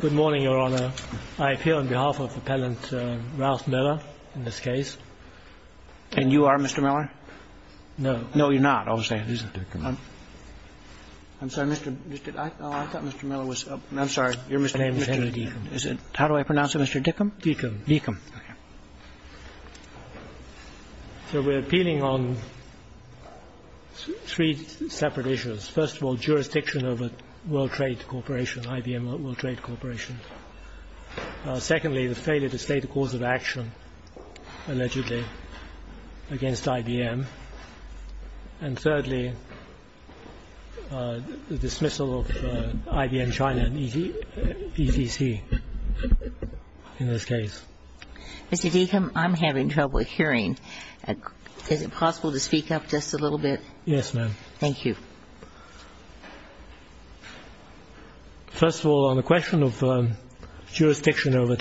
Good morning, Your Honor. I appeal on behalf of Appellant Ralph Miller in this case. And you are Mr. Miller? No. No, you're not, obviously. I'm sorry, Mr. — I thought Mr. Miller was — I'm sorry, you're Mr. — My name is Henry Deakam. Is it — how do I pronounce it, Mr. Deakam? Deakam. Deakam. Okay. So we're appealing on three separate issues. First of all, jurisdiction over World Trade Corporation, IBM World Trade Corporation. Secondly, the failure to state a cause of action, allegedly, against IBM. And thirdly, the dismissal of IBM China and ECC in this case. Mr. Deakam, I'm having trouble hearing. Is it possible to speak up just a little bit? Yes, ma'am. Thank you. First of all, on the question of jurisdiction over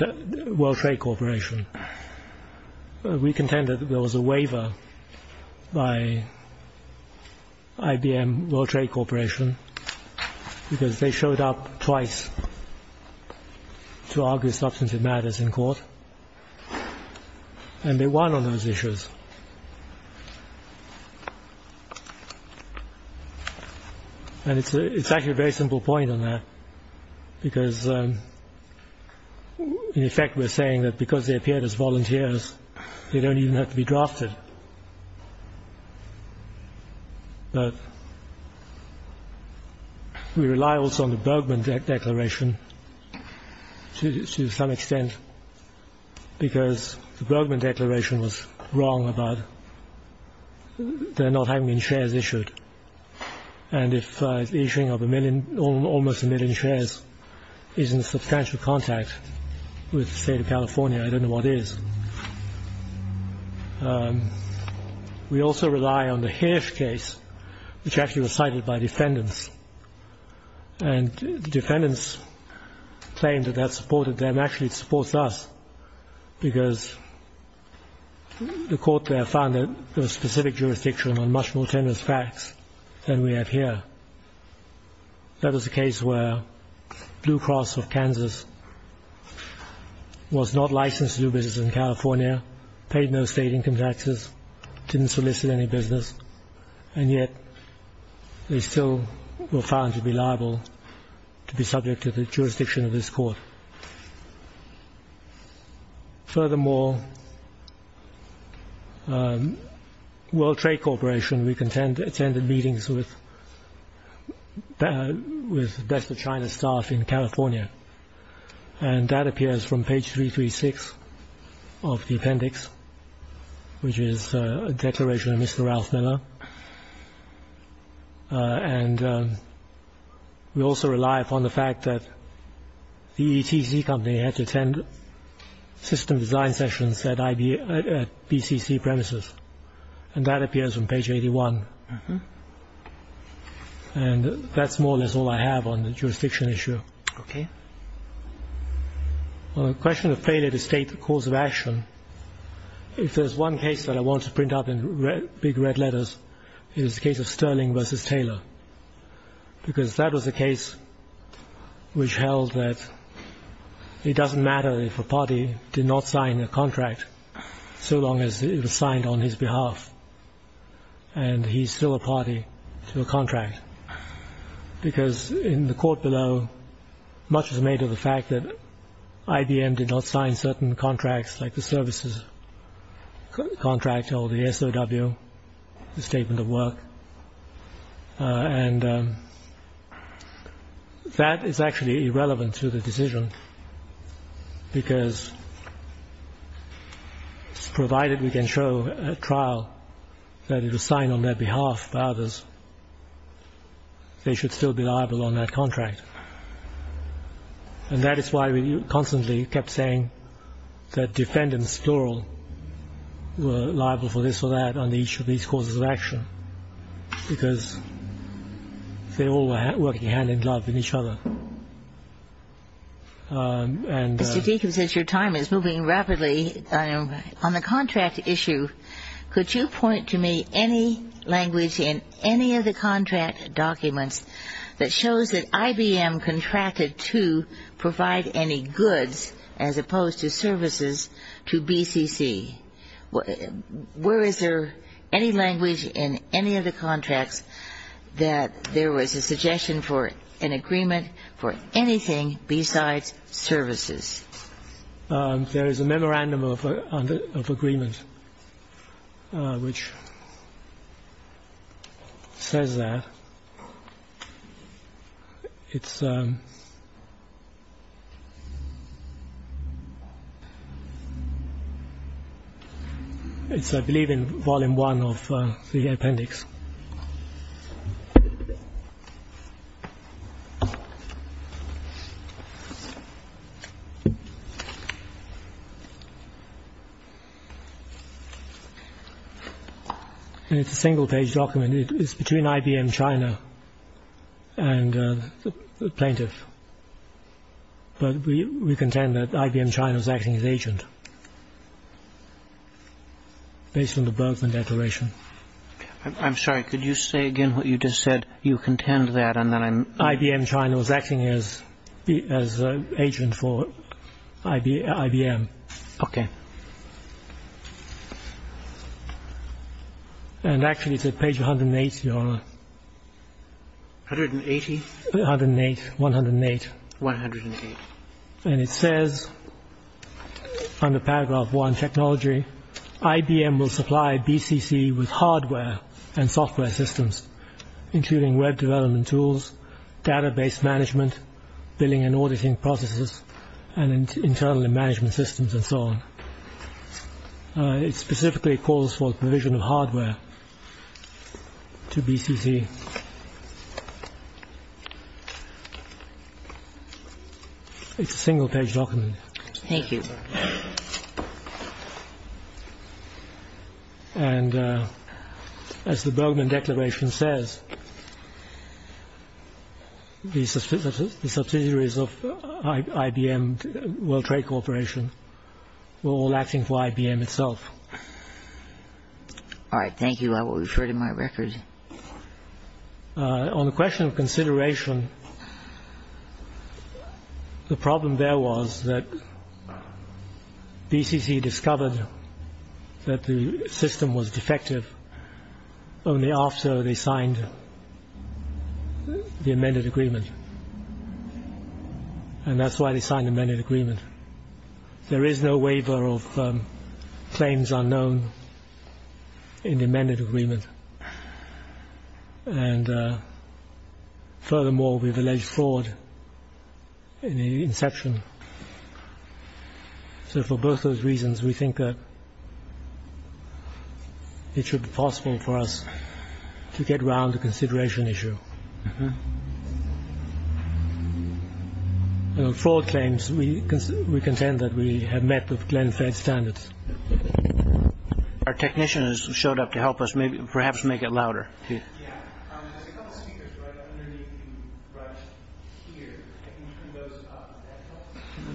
World Trade Corporation, we contend that there was a waiver by IBM World Trade Corporation because they showed up twice to argue substantive matters in court, and they won on those issues. And it's actually a very simple point on that because, in effect, we're saying that because they appeared as volunteers, they don't even have to be drafted. But we rely also on the Bergman Declaration to some extent because the Bergman Declaration was wrong about there not having been shares issued. And if the issuing of almost a million shares is in substantial contact with the state of California, I don't know what is. We also rely on the Hirsch case, which actually was cited by defendants. And the defendants claimed that that supported them. Actually, it supports us because the court there found that there was specific jurisdiction on much more tenuous facts than we have here. That was a case where Blue Cross of Kansas was not licensed to do business in California, paid no state income taxes, didn't solicit any business, and yet they still were found to be liable to be subject to the jurisdiction of this court. Furthermore, World Trade Corporation, we attended meetings with Best of China staff in California. And that appears from page 336 of the appendix, which is a declaration of Mr. Ralph Miller. And we also rely upon the fact that the ETC company had to attend system design sessions at BCC premises. And that appears on page 81. And that's more or less all I have on the jurisdiction issue. Well, the question of failure to state the cause of action, if there's one case that I want to print up in big red letters, it is the case of Sterling v. Taylor. Because that was a case which held that it doesn't matter if a party did not sign a contract so long as it was signed on his behalf, and he's still a party to a contract. Because in the court below, much is made of the fact that IBM did not sign certain contracts like the services contract or the SOW, the statement of work. And that is actually irrelevant to the decision, because provided we can show at trial that it was signed on their behalf by others, they should still be liable on that contract. And that is why we constantly kept saying that defendants, plural, were liable for this or that on each of these causes of action, because they all were working hand in glove with each other. Mr. Deacon, since your time is moving rapidly, on the contract issue, could you point to me any language in any of the contract documents that shows that IBM contracted to provide any goods as opposed to services to BCC? Where is there any language in any of the contracts that there was a suggestion for an agreement for anything besides services? There is a memorandum of agreement which says that. It's, I believe, in Volume 1 of the appendix. It's a single-page document. It's between IBM China and the plaintiff. But we contend that IBM China is acting as agent, based on the Bergman Declaration. I'm sorry, could you say again what you just said? You contend that and then I'm... IBM China was acting as agent for IBM. Okay. And actually it's at page 108, Your Honor. 180? 108, 108. 108. And it says, under Paragraph 1, Technology, IBM will supply BCC with hardware and software systems, including web development tools, database management, billing and auditing processes, and internal management systems, and so on. It specifically calls for provision of hardware to BCC. It's a single-page document. Thank you. And as the Bergman Declaration says, the subsidiaries of IBM World Trade Corporation were all acting for IBM itself. All right, thank you. I will refer to my record. On the question of consideration, the problem there was that BCC discovered that the system was defective only after they signed the amended agreement. And that's why they signed the amended agreement. There is no waiver of claims unknown in the amended agreement. And furthermore, we've alleged fraud in the inception. So for both of those reasons, we think that it should be possible for us to get around the consideration issue. Fraud claims, we contend that we have met the Glenn-Fed standards. Our technician has showed up to help us perhaps make it louder. Yeah.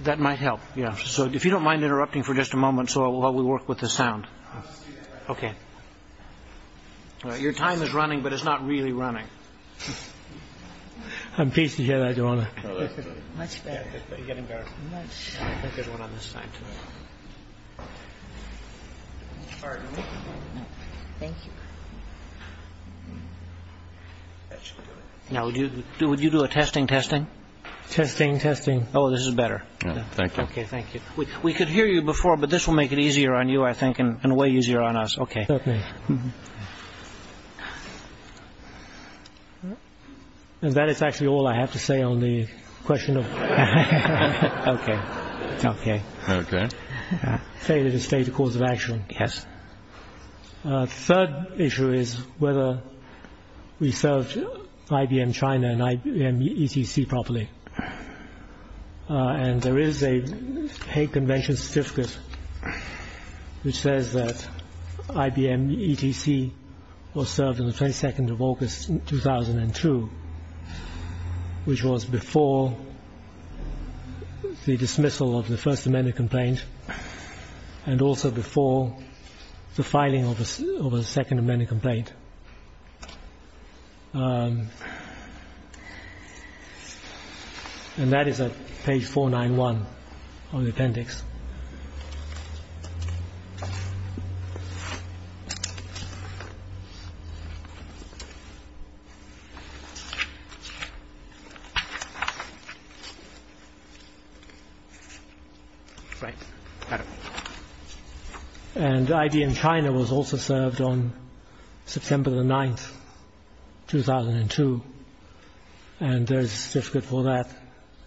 That might help. So if you don't mind interrupting for just a moment while we work with the sound. OK. Your time is running, but it's not really running. I'm pleased to hear that, Joanna. Much better. Much better. I think there's one on this side, too. Pardon me. Thank you. Now, would you do a testing, testing? Testing, testing. Oh, this is better. Thank you. OK, thank you. We could hear you before, but this will make it easier on you, I think, and way easier on us. OK. And that is actually all I have to say on the question of... OK. OK. OK. ...failure to state the cause of action. Yes. The third issue is whether we served IBM China and IBM ECC properly. And there is a Hague Convention certificate which says that IBM ECC was served on 22nd August 2002, which was before the dismissal of the First Amendment complaint and also before the filing of the Second Amendment complaint. And that is at page 491 on the appendix. Right. And IBM China was also served on September the 9th, 2002, and there is a certificate for that,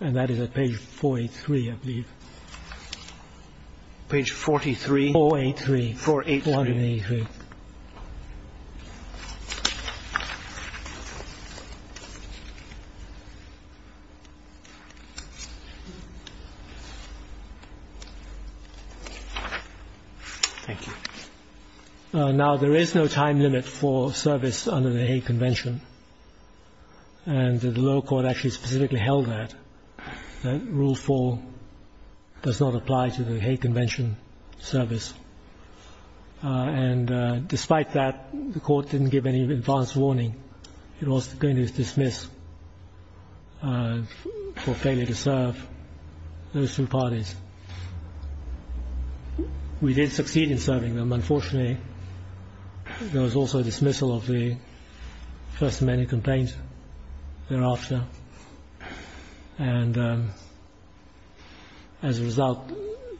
and that is at page 483, I believe. Page 43? 483. 483. 483. OK. Thank you. Now, there is no time limit for service under the Hague Convention, and the lower court actually specifically held that, that Rule 4 does not apply to the Hague Convention service. And despite that, the court didn't give any advance warning. It was going to dismiss for failure to serve those two parties. We did succeed in serving them. Unfortunately, there was also a dismissal of the First Amendment complaint thereafter, and as a result,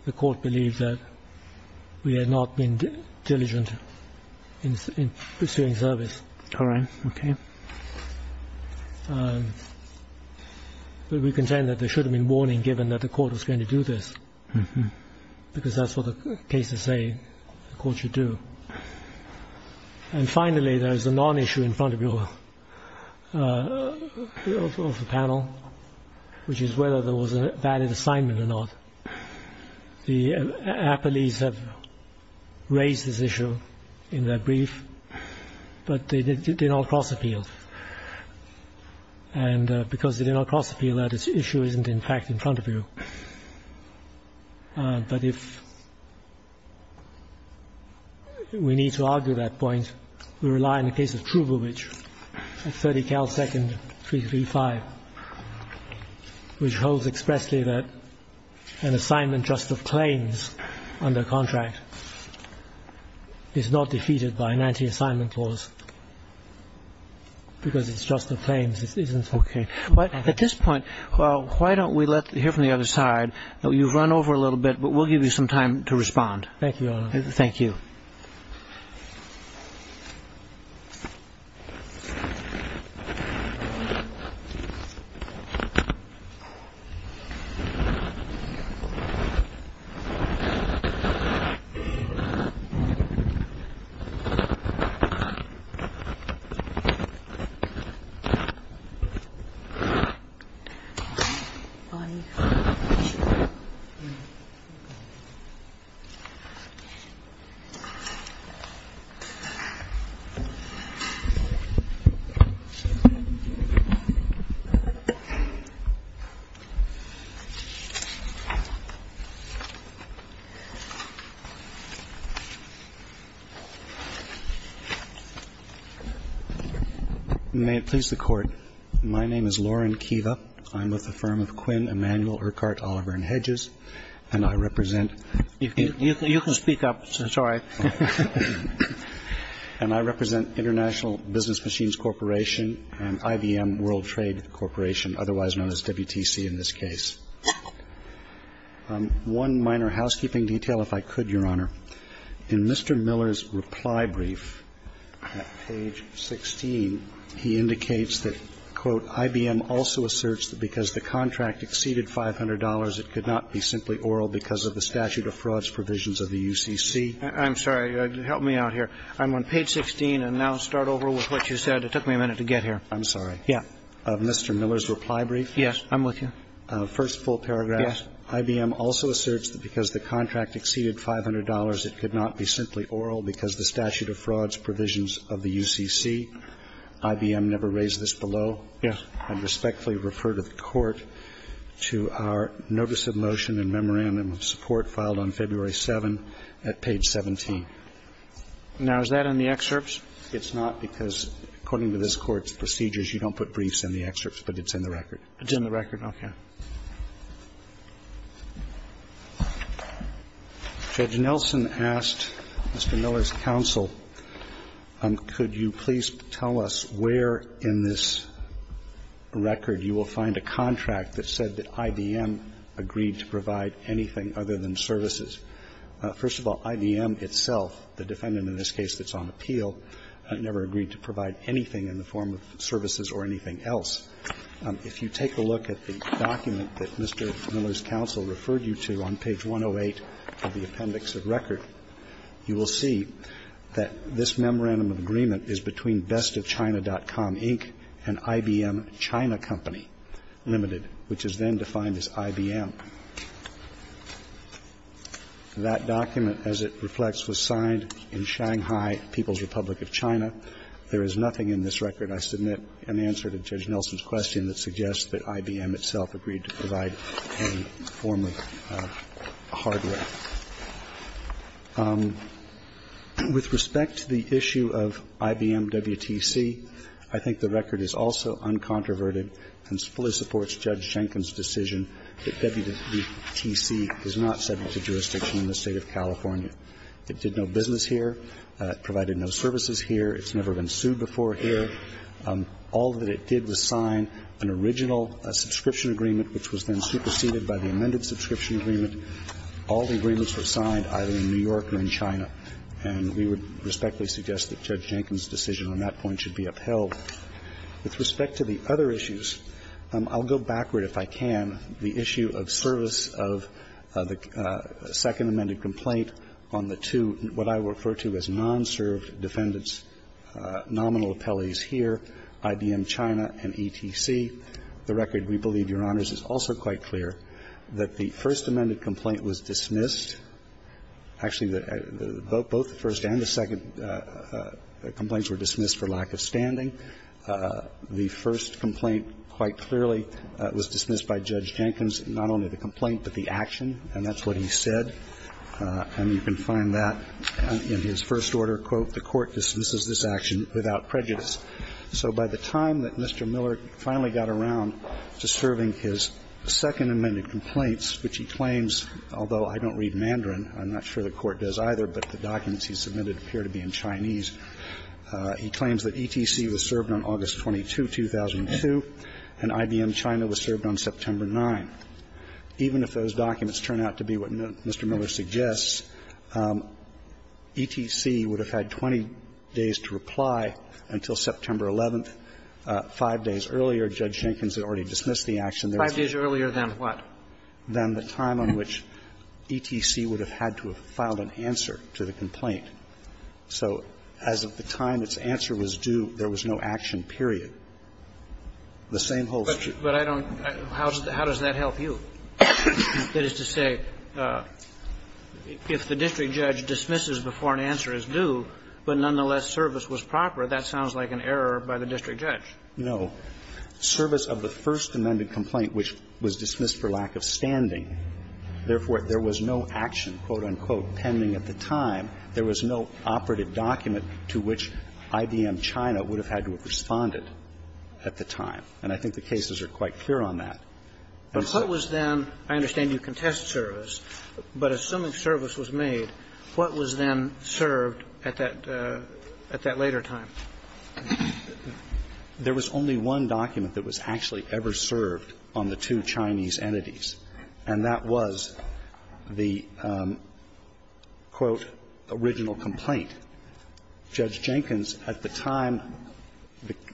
the court believed that we had not been diligent in pursuing service. All right. OK. But we contend that there should have been warning given that the court was going to do this, because that's what the cases say the court should do. And finally, there is a non-issue in front of you of the panel, which is whether there was a valid assignment or not. The appellees have raised this issue in their brief, but they did not cross-appeal, and because they did not cross-appeal, that issue isn't, in fact, in front of you. But if we need to argue that point, we rely on the case of Trubowitz, 30 Cal 2nd, 335, which holds expressly that an assignment just of claims under contract is not defeated by an anti-assignment clause, because it's just the claims. This isn't OK. At this point, why don't we hear from the other side? You've run over a little bit, but we'll give you some time to respond. Thank you, Your Honor. Thank you. Lonnie. May it please the Court, My name is Loren Kiva. I'm with the firm of Quinn Emanuel Urquhart Oliver & Hedges, and I represent You can speak up. Sorry. And I represent International Business Machines Corporation and IBM World Trade Corporation, otherwise known as WTC in this case. One minor housekeeping detail, if I could, Your Honor. In Mr. Miller's reply brief at page 16, he indicates that, quote, IBM also asserts that because the contract exceeded $500, it could not be simply oral because of the statute of frauds provisions of the UCC. I'm sorry. Help me out here. I'm on page 16, and now start over with what you said. It took me a minute to get here. I'm sorry. Yeah. Mr. Miller's reply brief. Yes, I'm with you. First full paragraph. Yes. IBM also asserts that because the contract exceeded $500, it could not be simply oral because the statute of frauds provisions of the UCC. IBM never raised this below. Yes. I respectfully refer to the Court to our notice of motion and memorandum of support filed on February 7 at page 17. Now, is that in the excerpts? It's not, because according to this Court's procedures, you don't put briefs in the excerpts, but it's in the record. It's in the record. Okay. Judge Nelson asked Mr. Miller's counsel, could you please tell us where in this record you will find a contract that said that IBM agreed to provide anything other than services? First of all, IBM itself, the defendant in this case that's on appeal, never agreed to provide anything in the form of services or anything else. If you take a look at the document that Mr. Miller's counsel referred you to on page 108 of the appendix of record, you will see that this memorandum of agreement is between Best of China.com, Inc., and IBM China Company Limited, which is then defined as IBM. That document, as it reflects, was signed in Shanghai, People's Republic of China. There is nothing in this record. I submit an answer to Judge Nelson's question that suggests that IBM itself agreed to provide any form of hardware. With respect to the issue of IBM WTC, I think the record is also uncontroverted and fully supports Judge Schenken's decision that WTC is not subject to jurisdiction in the State of California. It did no business here. It provided no services here. It's never been sued before here. All that it did was sign an original subscription agreement, which was then superseded by the amended subscription agreement. All the agreements were signed either in New York or in China, and we would respectfully suggest that Judge Schenken's decision on that point should be upheld. With respect to the other issues, I'll go backward if I can. The issue of service of the second amended complaint on the two, what I refer to as China and ETC, the record, we believe, Your Honors, is also quite clear, that the first amended complaint was dismissed. Actually, both the first and the second complaints were dismissed for lack of standing. The first complaint, quite clearly, was dismissed by Judge Schenken's, not only the complaint but the action, and that's what he said. And you can find that in his first order, quote, So by the time that Mr. Miller finally got around to serving his second amended complaints, which he claims, although I don't read Mandarin, I'm not sure the court does either, but the documents he submitted appear to be in Chinese, he claims that ETC was served on August 22, 2002, and IBM China was served on September 9. Even if those documents turn out to be what Mr. Miller suggests, ETC would have had 20 days to reply until September 11, five days earlier, Judge Schenken's had already dismissed the action. Five days earlier than what? Than the time on which ETC would have had to have filed an answer to the complaint. So as of the time its answer was due, there was no action, period. The same holds true. But I don't know. How does that help you? That is to say, if the district judge dismisses before an answer is due, but nonetheless service was proper, that sounds like an error by the district judge. No. Service of the first amended complaint, which was dismissed for lack of standing. Therefore, there was no action, quote, unquote, pending at the time. There was no operative document to which IBM China would have had to have responded at the time. And I think the cases are quite clear on that. But what was then, I understand you contest service, but assuming service was made, what was then served at that later time? There was only one document that was actually ever served on the two Chinese entities, and that was the, quote, original complaint. Judge Jenkins, at the time,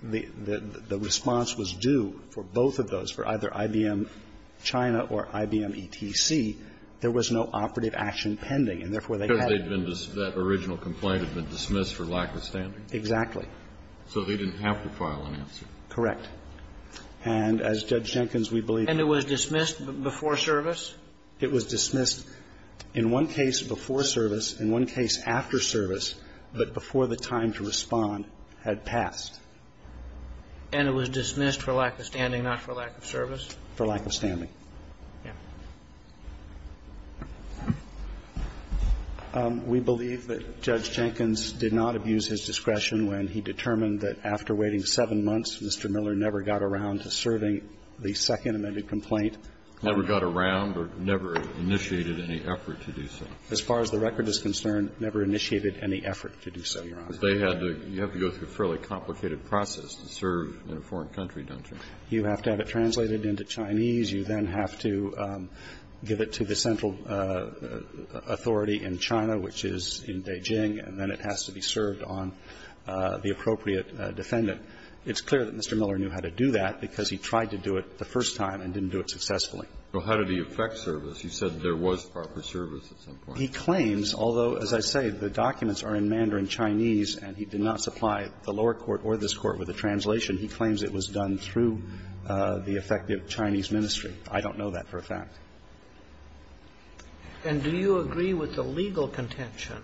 the response was due for both of those, for either IBM China or IBM ETC. There was no operative action pending. And therefore, they had to. Because that original complaint had been dismissed for lack of standing. Exactly. So they didn't have to file an answer. Correct. And as Judge Jenkins, we believe. And it was dismissed before service? It was dismissed in one case before service, in one case after service, but before And it was dismissed for lack of standing, not for lack of service? For lack of standing. Yes. We believe that Judge Jenkins did not abuse his discretion when he determined that after waiting seven months, Mr. Miller never got around to serving the second amended complaint. Never got around or never initiated any effort to do so. As far as the record is concerned, never initiated any effort to do so, Your Honor. Because they had to go through a fairly complicated process to serve in a foreign country, don't you? You have to have it translated into Chinese. You then have to give it to the central authority in China, which is in Beijing, and then it has to be served on the appropriate defendant. It's clear that Mr. Miller knew how to do that because he tried to do it the first time and didn't do it successfully. Well, how did he affect service? You said there was proper service at some point. He claims, although, as I say, the documents are in Mandarin Chinese and he did not apply the lower court or this Court with a translation. He claims it was done through the effective Chinese ministry. I don't know that for a fact. And do you agree with the legal contention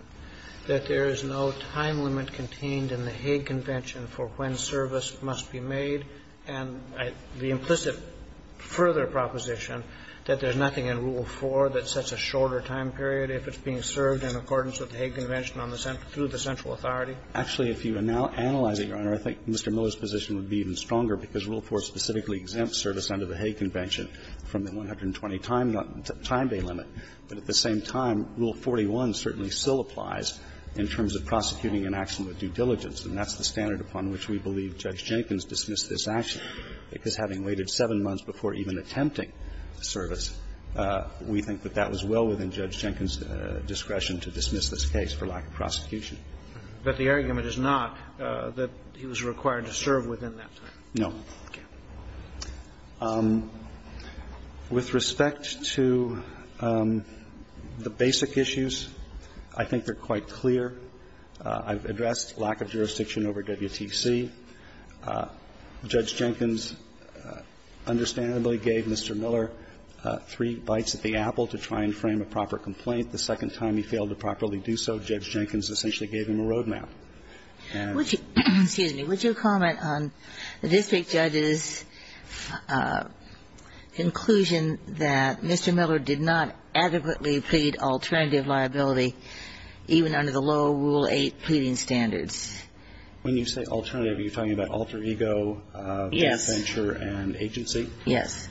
that there is no time limit contained in the Hague Convention for when service must be made and the implicit further proposition that there's nothing in Rule 4 that sets a shorter time period if it's being served in accordance with the Hague Convention on the central – through the central authority? Actually, if you now analyze it, Your Honor, I think Mr. Miller's position would be even stronger because Rule 4 specifically exempts service under the Hague Convention from the 120 time – time day limit. But at the same time, Rule 41 certainly still applies in terms of prosecuting an action with due diligence, and that's the standard upon which we believe Judge Jenkins dismissed this action, because having waited seven months before even attempting service, we think that that was well within Judge Jenkins' discretion to dismiss this case for lack of prosecution. But the argument is not that he was required to serve within that time. No. With respect to the basic issues, I think they're quite clear. I've addressed lack of jurisdiction over WTC. Judge Jenkins understandably gave Mr. Miller three bites at the apple to try and frame a proper complaint. The second time he failed to properly do so, Judge Jenkins essentially gave him a roadmap. And – Would you – excuse me. Would you comment on the district judge's conclusion that Mr. Miller did not adequately plead alternative liability even under the lower Rule 8 pleading standards? When you say alternative, are you talking about alter ego? Yes. Adventure and agency? Yes.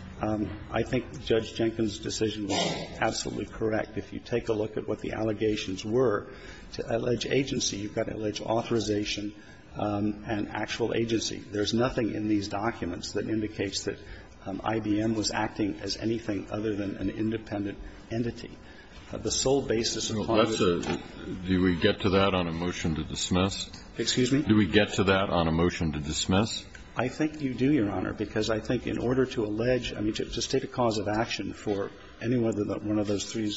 I think Judge Jenkins' decision was absolutely correct. If you take a look at what the allegations were, to allege agency, you've got to allege authorization and actual agency. There's nothing in these documents that indicates that IBM was acting as anything other than an independent entity. The sole basis of all of this is the fact that there was no alter ego in this case. Do we get to that on a motion to dismiss? I mean, to state a cause of action for any one of those three,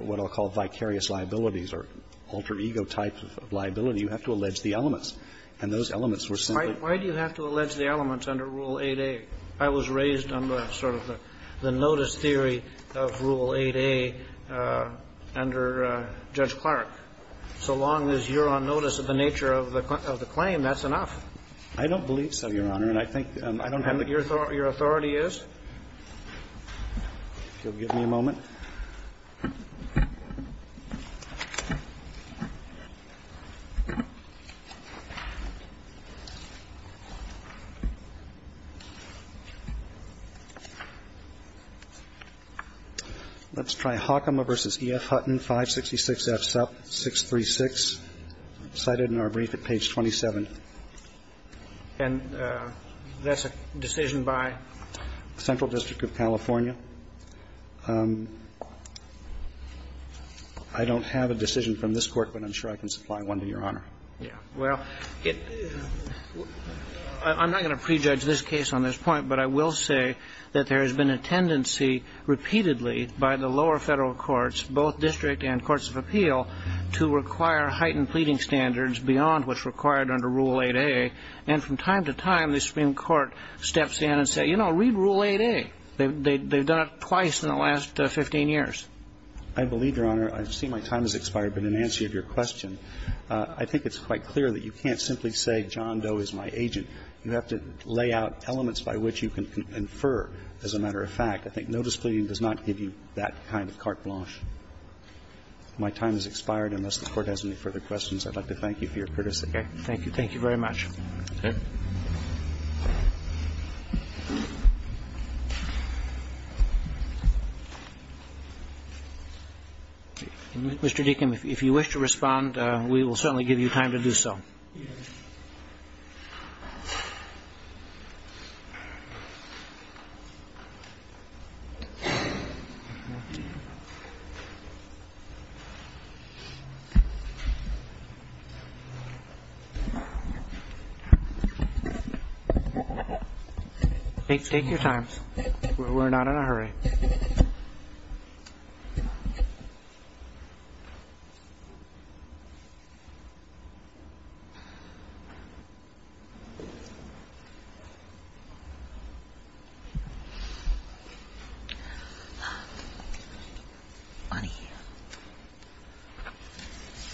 what I'll call vicarious liabilities or alter ego type of liability, you have to allege the elements. And those elements were simply – Why do you have to allege the elements under Rule 8a? I was raised on the sort of the notice theory of Rule 8a under Judge Clark. So long as you're on notice of the nature of the claim, that's enough. I don't believe so, Your Honor. And I think – I don't have the – Your authority is? If you'll give me a moment. Let's try Hackema v. E.F. Hutton, 566 F. Sup. 636, cited in our brief at page 27. And that's a decision by? Central District of California. I don't have a decision from this Court, but I'm sure I can supply one to Your Honor. Well, it – I'm not going to prejudge this case on this point, but I will say that there has been a tendency repeatedly by the lower Federal courts, both district and courts of appeal, to require heightened pleading standards beyond what's required under Rule 8a. And from time to time, the Supreme Court steps in and says, you know, read Rule 8a. They've done it twice in the last 15 years. I believe, Your Honor, I see my time has expired. But in answer to your question, I think it's quite clear that you can't simply say John Doe is my agent. You have to lay out elements by which you can infer, as a matter of fact. I think notice pleading does not give you that kind of carte blanche. My time has expired. Unless the Court has any further questions, I'd like to thank you for your criticism. Okay. Thank you. Thank you very much. Mr. Deacon, if you wish to respond, we will certainly give you time to do so. Take your time. We're not in a hurry.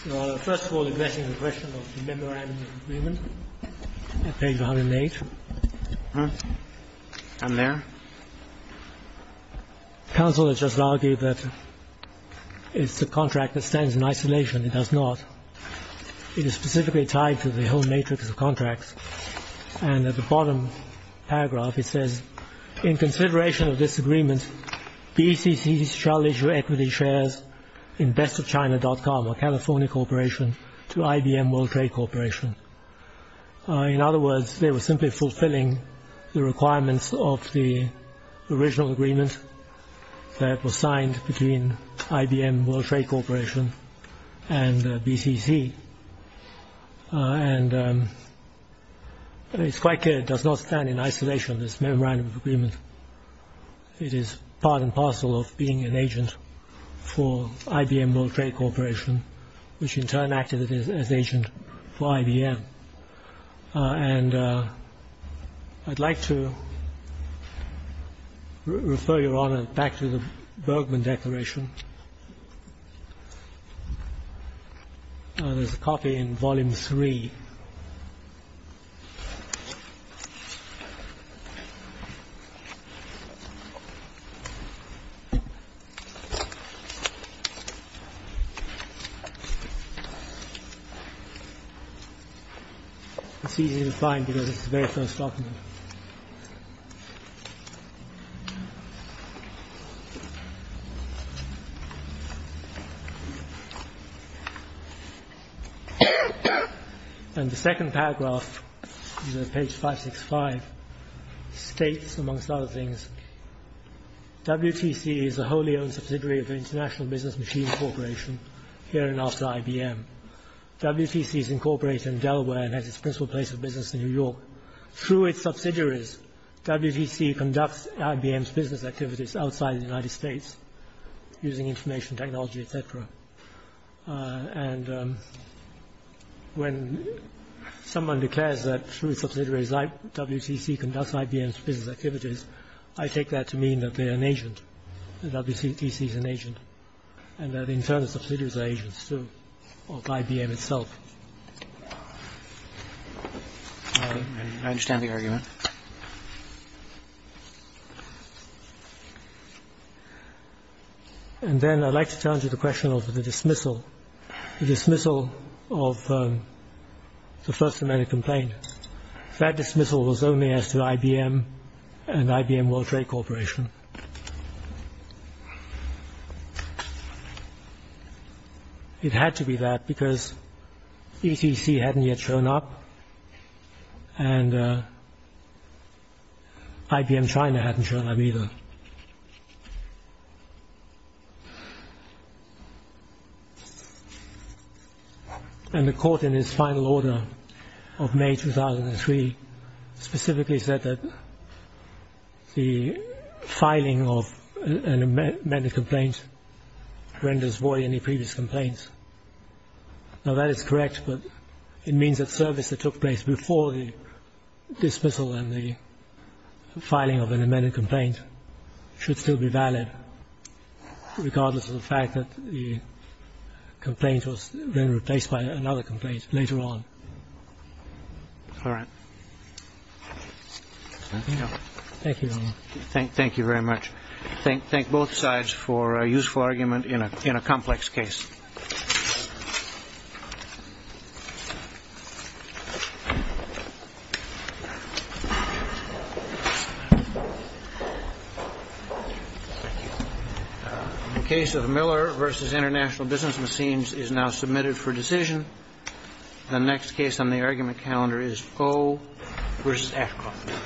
Your Honor, first of all, the question is a question of the memorandum of agreement at page 108. I'm there. Counsel has just argued that it's a contract that stands in isolation. It does not. It is specifically tied to the whole matrix of contracts. And at the bottom paragraph, it says, in consideration of this agreement, BCC shall issue equity shares in BestofChina.com, a California corporation, to IBM World Trade Corporation. In other words, they were simply fulfilling the requirements of the original agreement that was signed between IBM World Trade Corporation and BCC. And it's quite clear it does not stand in isolation, this memorandum of agreement. It is part and parcel of being an agent for IBM World Trade Corporation, which in turn acted as agent for IBM. And I'd like to refer your Honor back to the Bergman Declaration. There's a copy in Volume 3. It's easy to find because it's the very first document. And the second paragraph, page 565, states, amongst other things, WTC is a wholly owned subsidiary of the International Business Machine Corporation. Here and after IBM. WTC is incorporated in Delaware and has its principal place of business in New York. Through its subsidiaries, WTC conducts IBM's business activities outside the United States, using information technology, etc. And when someone declares that, through its subsidiaries, WTC conducts IBM's business activities, I take that to mean that they are an agent, that WTC is an agent. And that in turn, the subsidiaries are agents, too, of IBM itself. I understand the argument. And then I'd like to turn to the question of the dismissal. The dismissal of the First Amendment complaint. That dismissal was only as to IBM and IBM World Trade Corporation. It had to be that because ETC hadn't yet shown up and IBM China hadn't shown up either. And the court in its final order of May 2003 specifically said that the filing of an amended complaint renders void any previous complaints. Now that is correct, but it means that service that took place before the dismissal and the filing of an amended complaint should still be valid, regardless of the fact that the complaint was then replaced by another complaint later on. All right. Thank you very much. Thank both sides for a useful argument in a complex case. The case of Miller v. International Business Machines is now submitted for decision. The next case on the argument calendar is Foe v. Ashcroft. Thank you.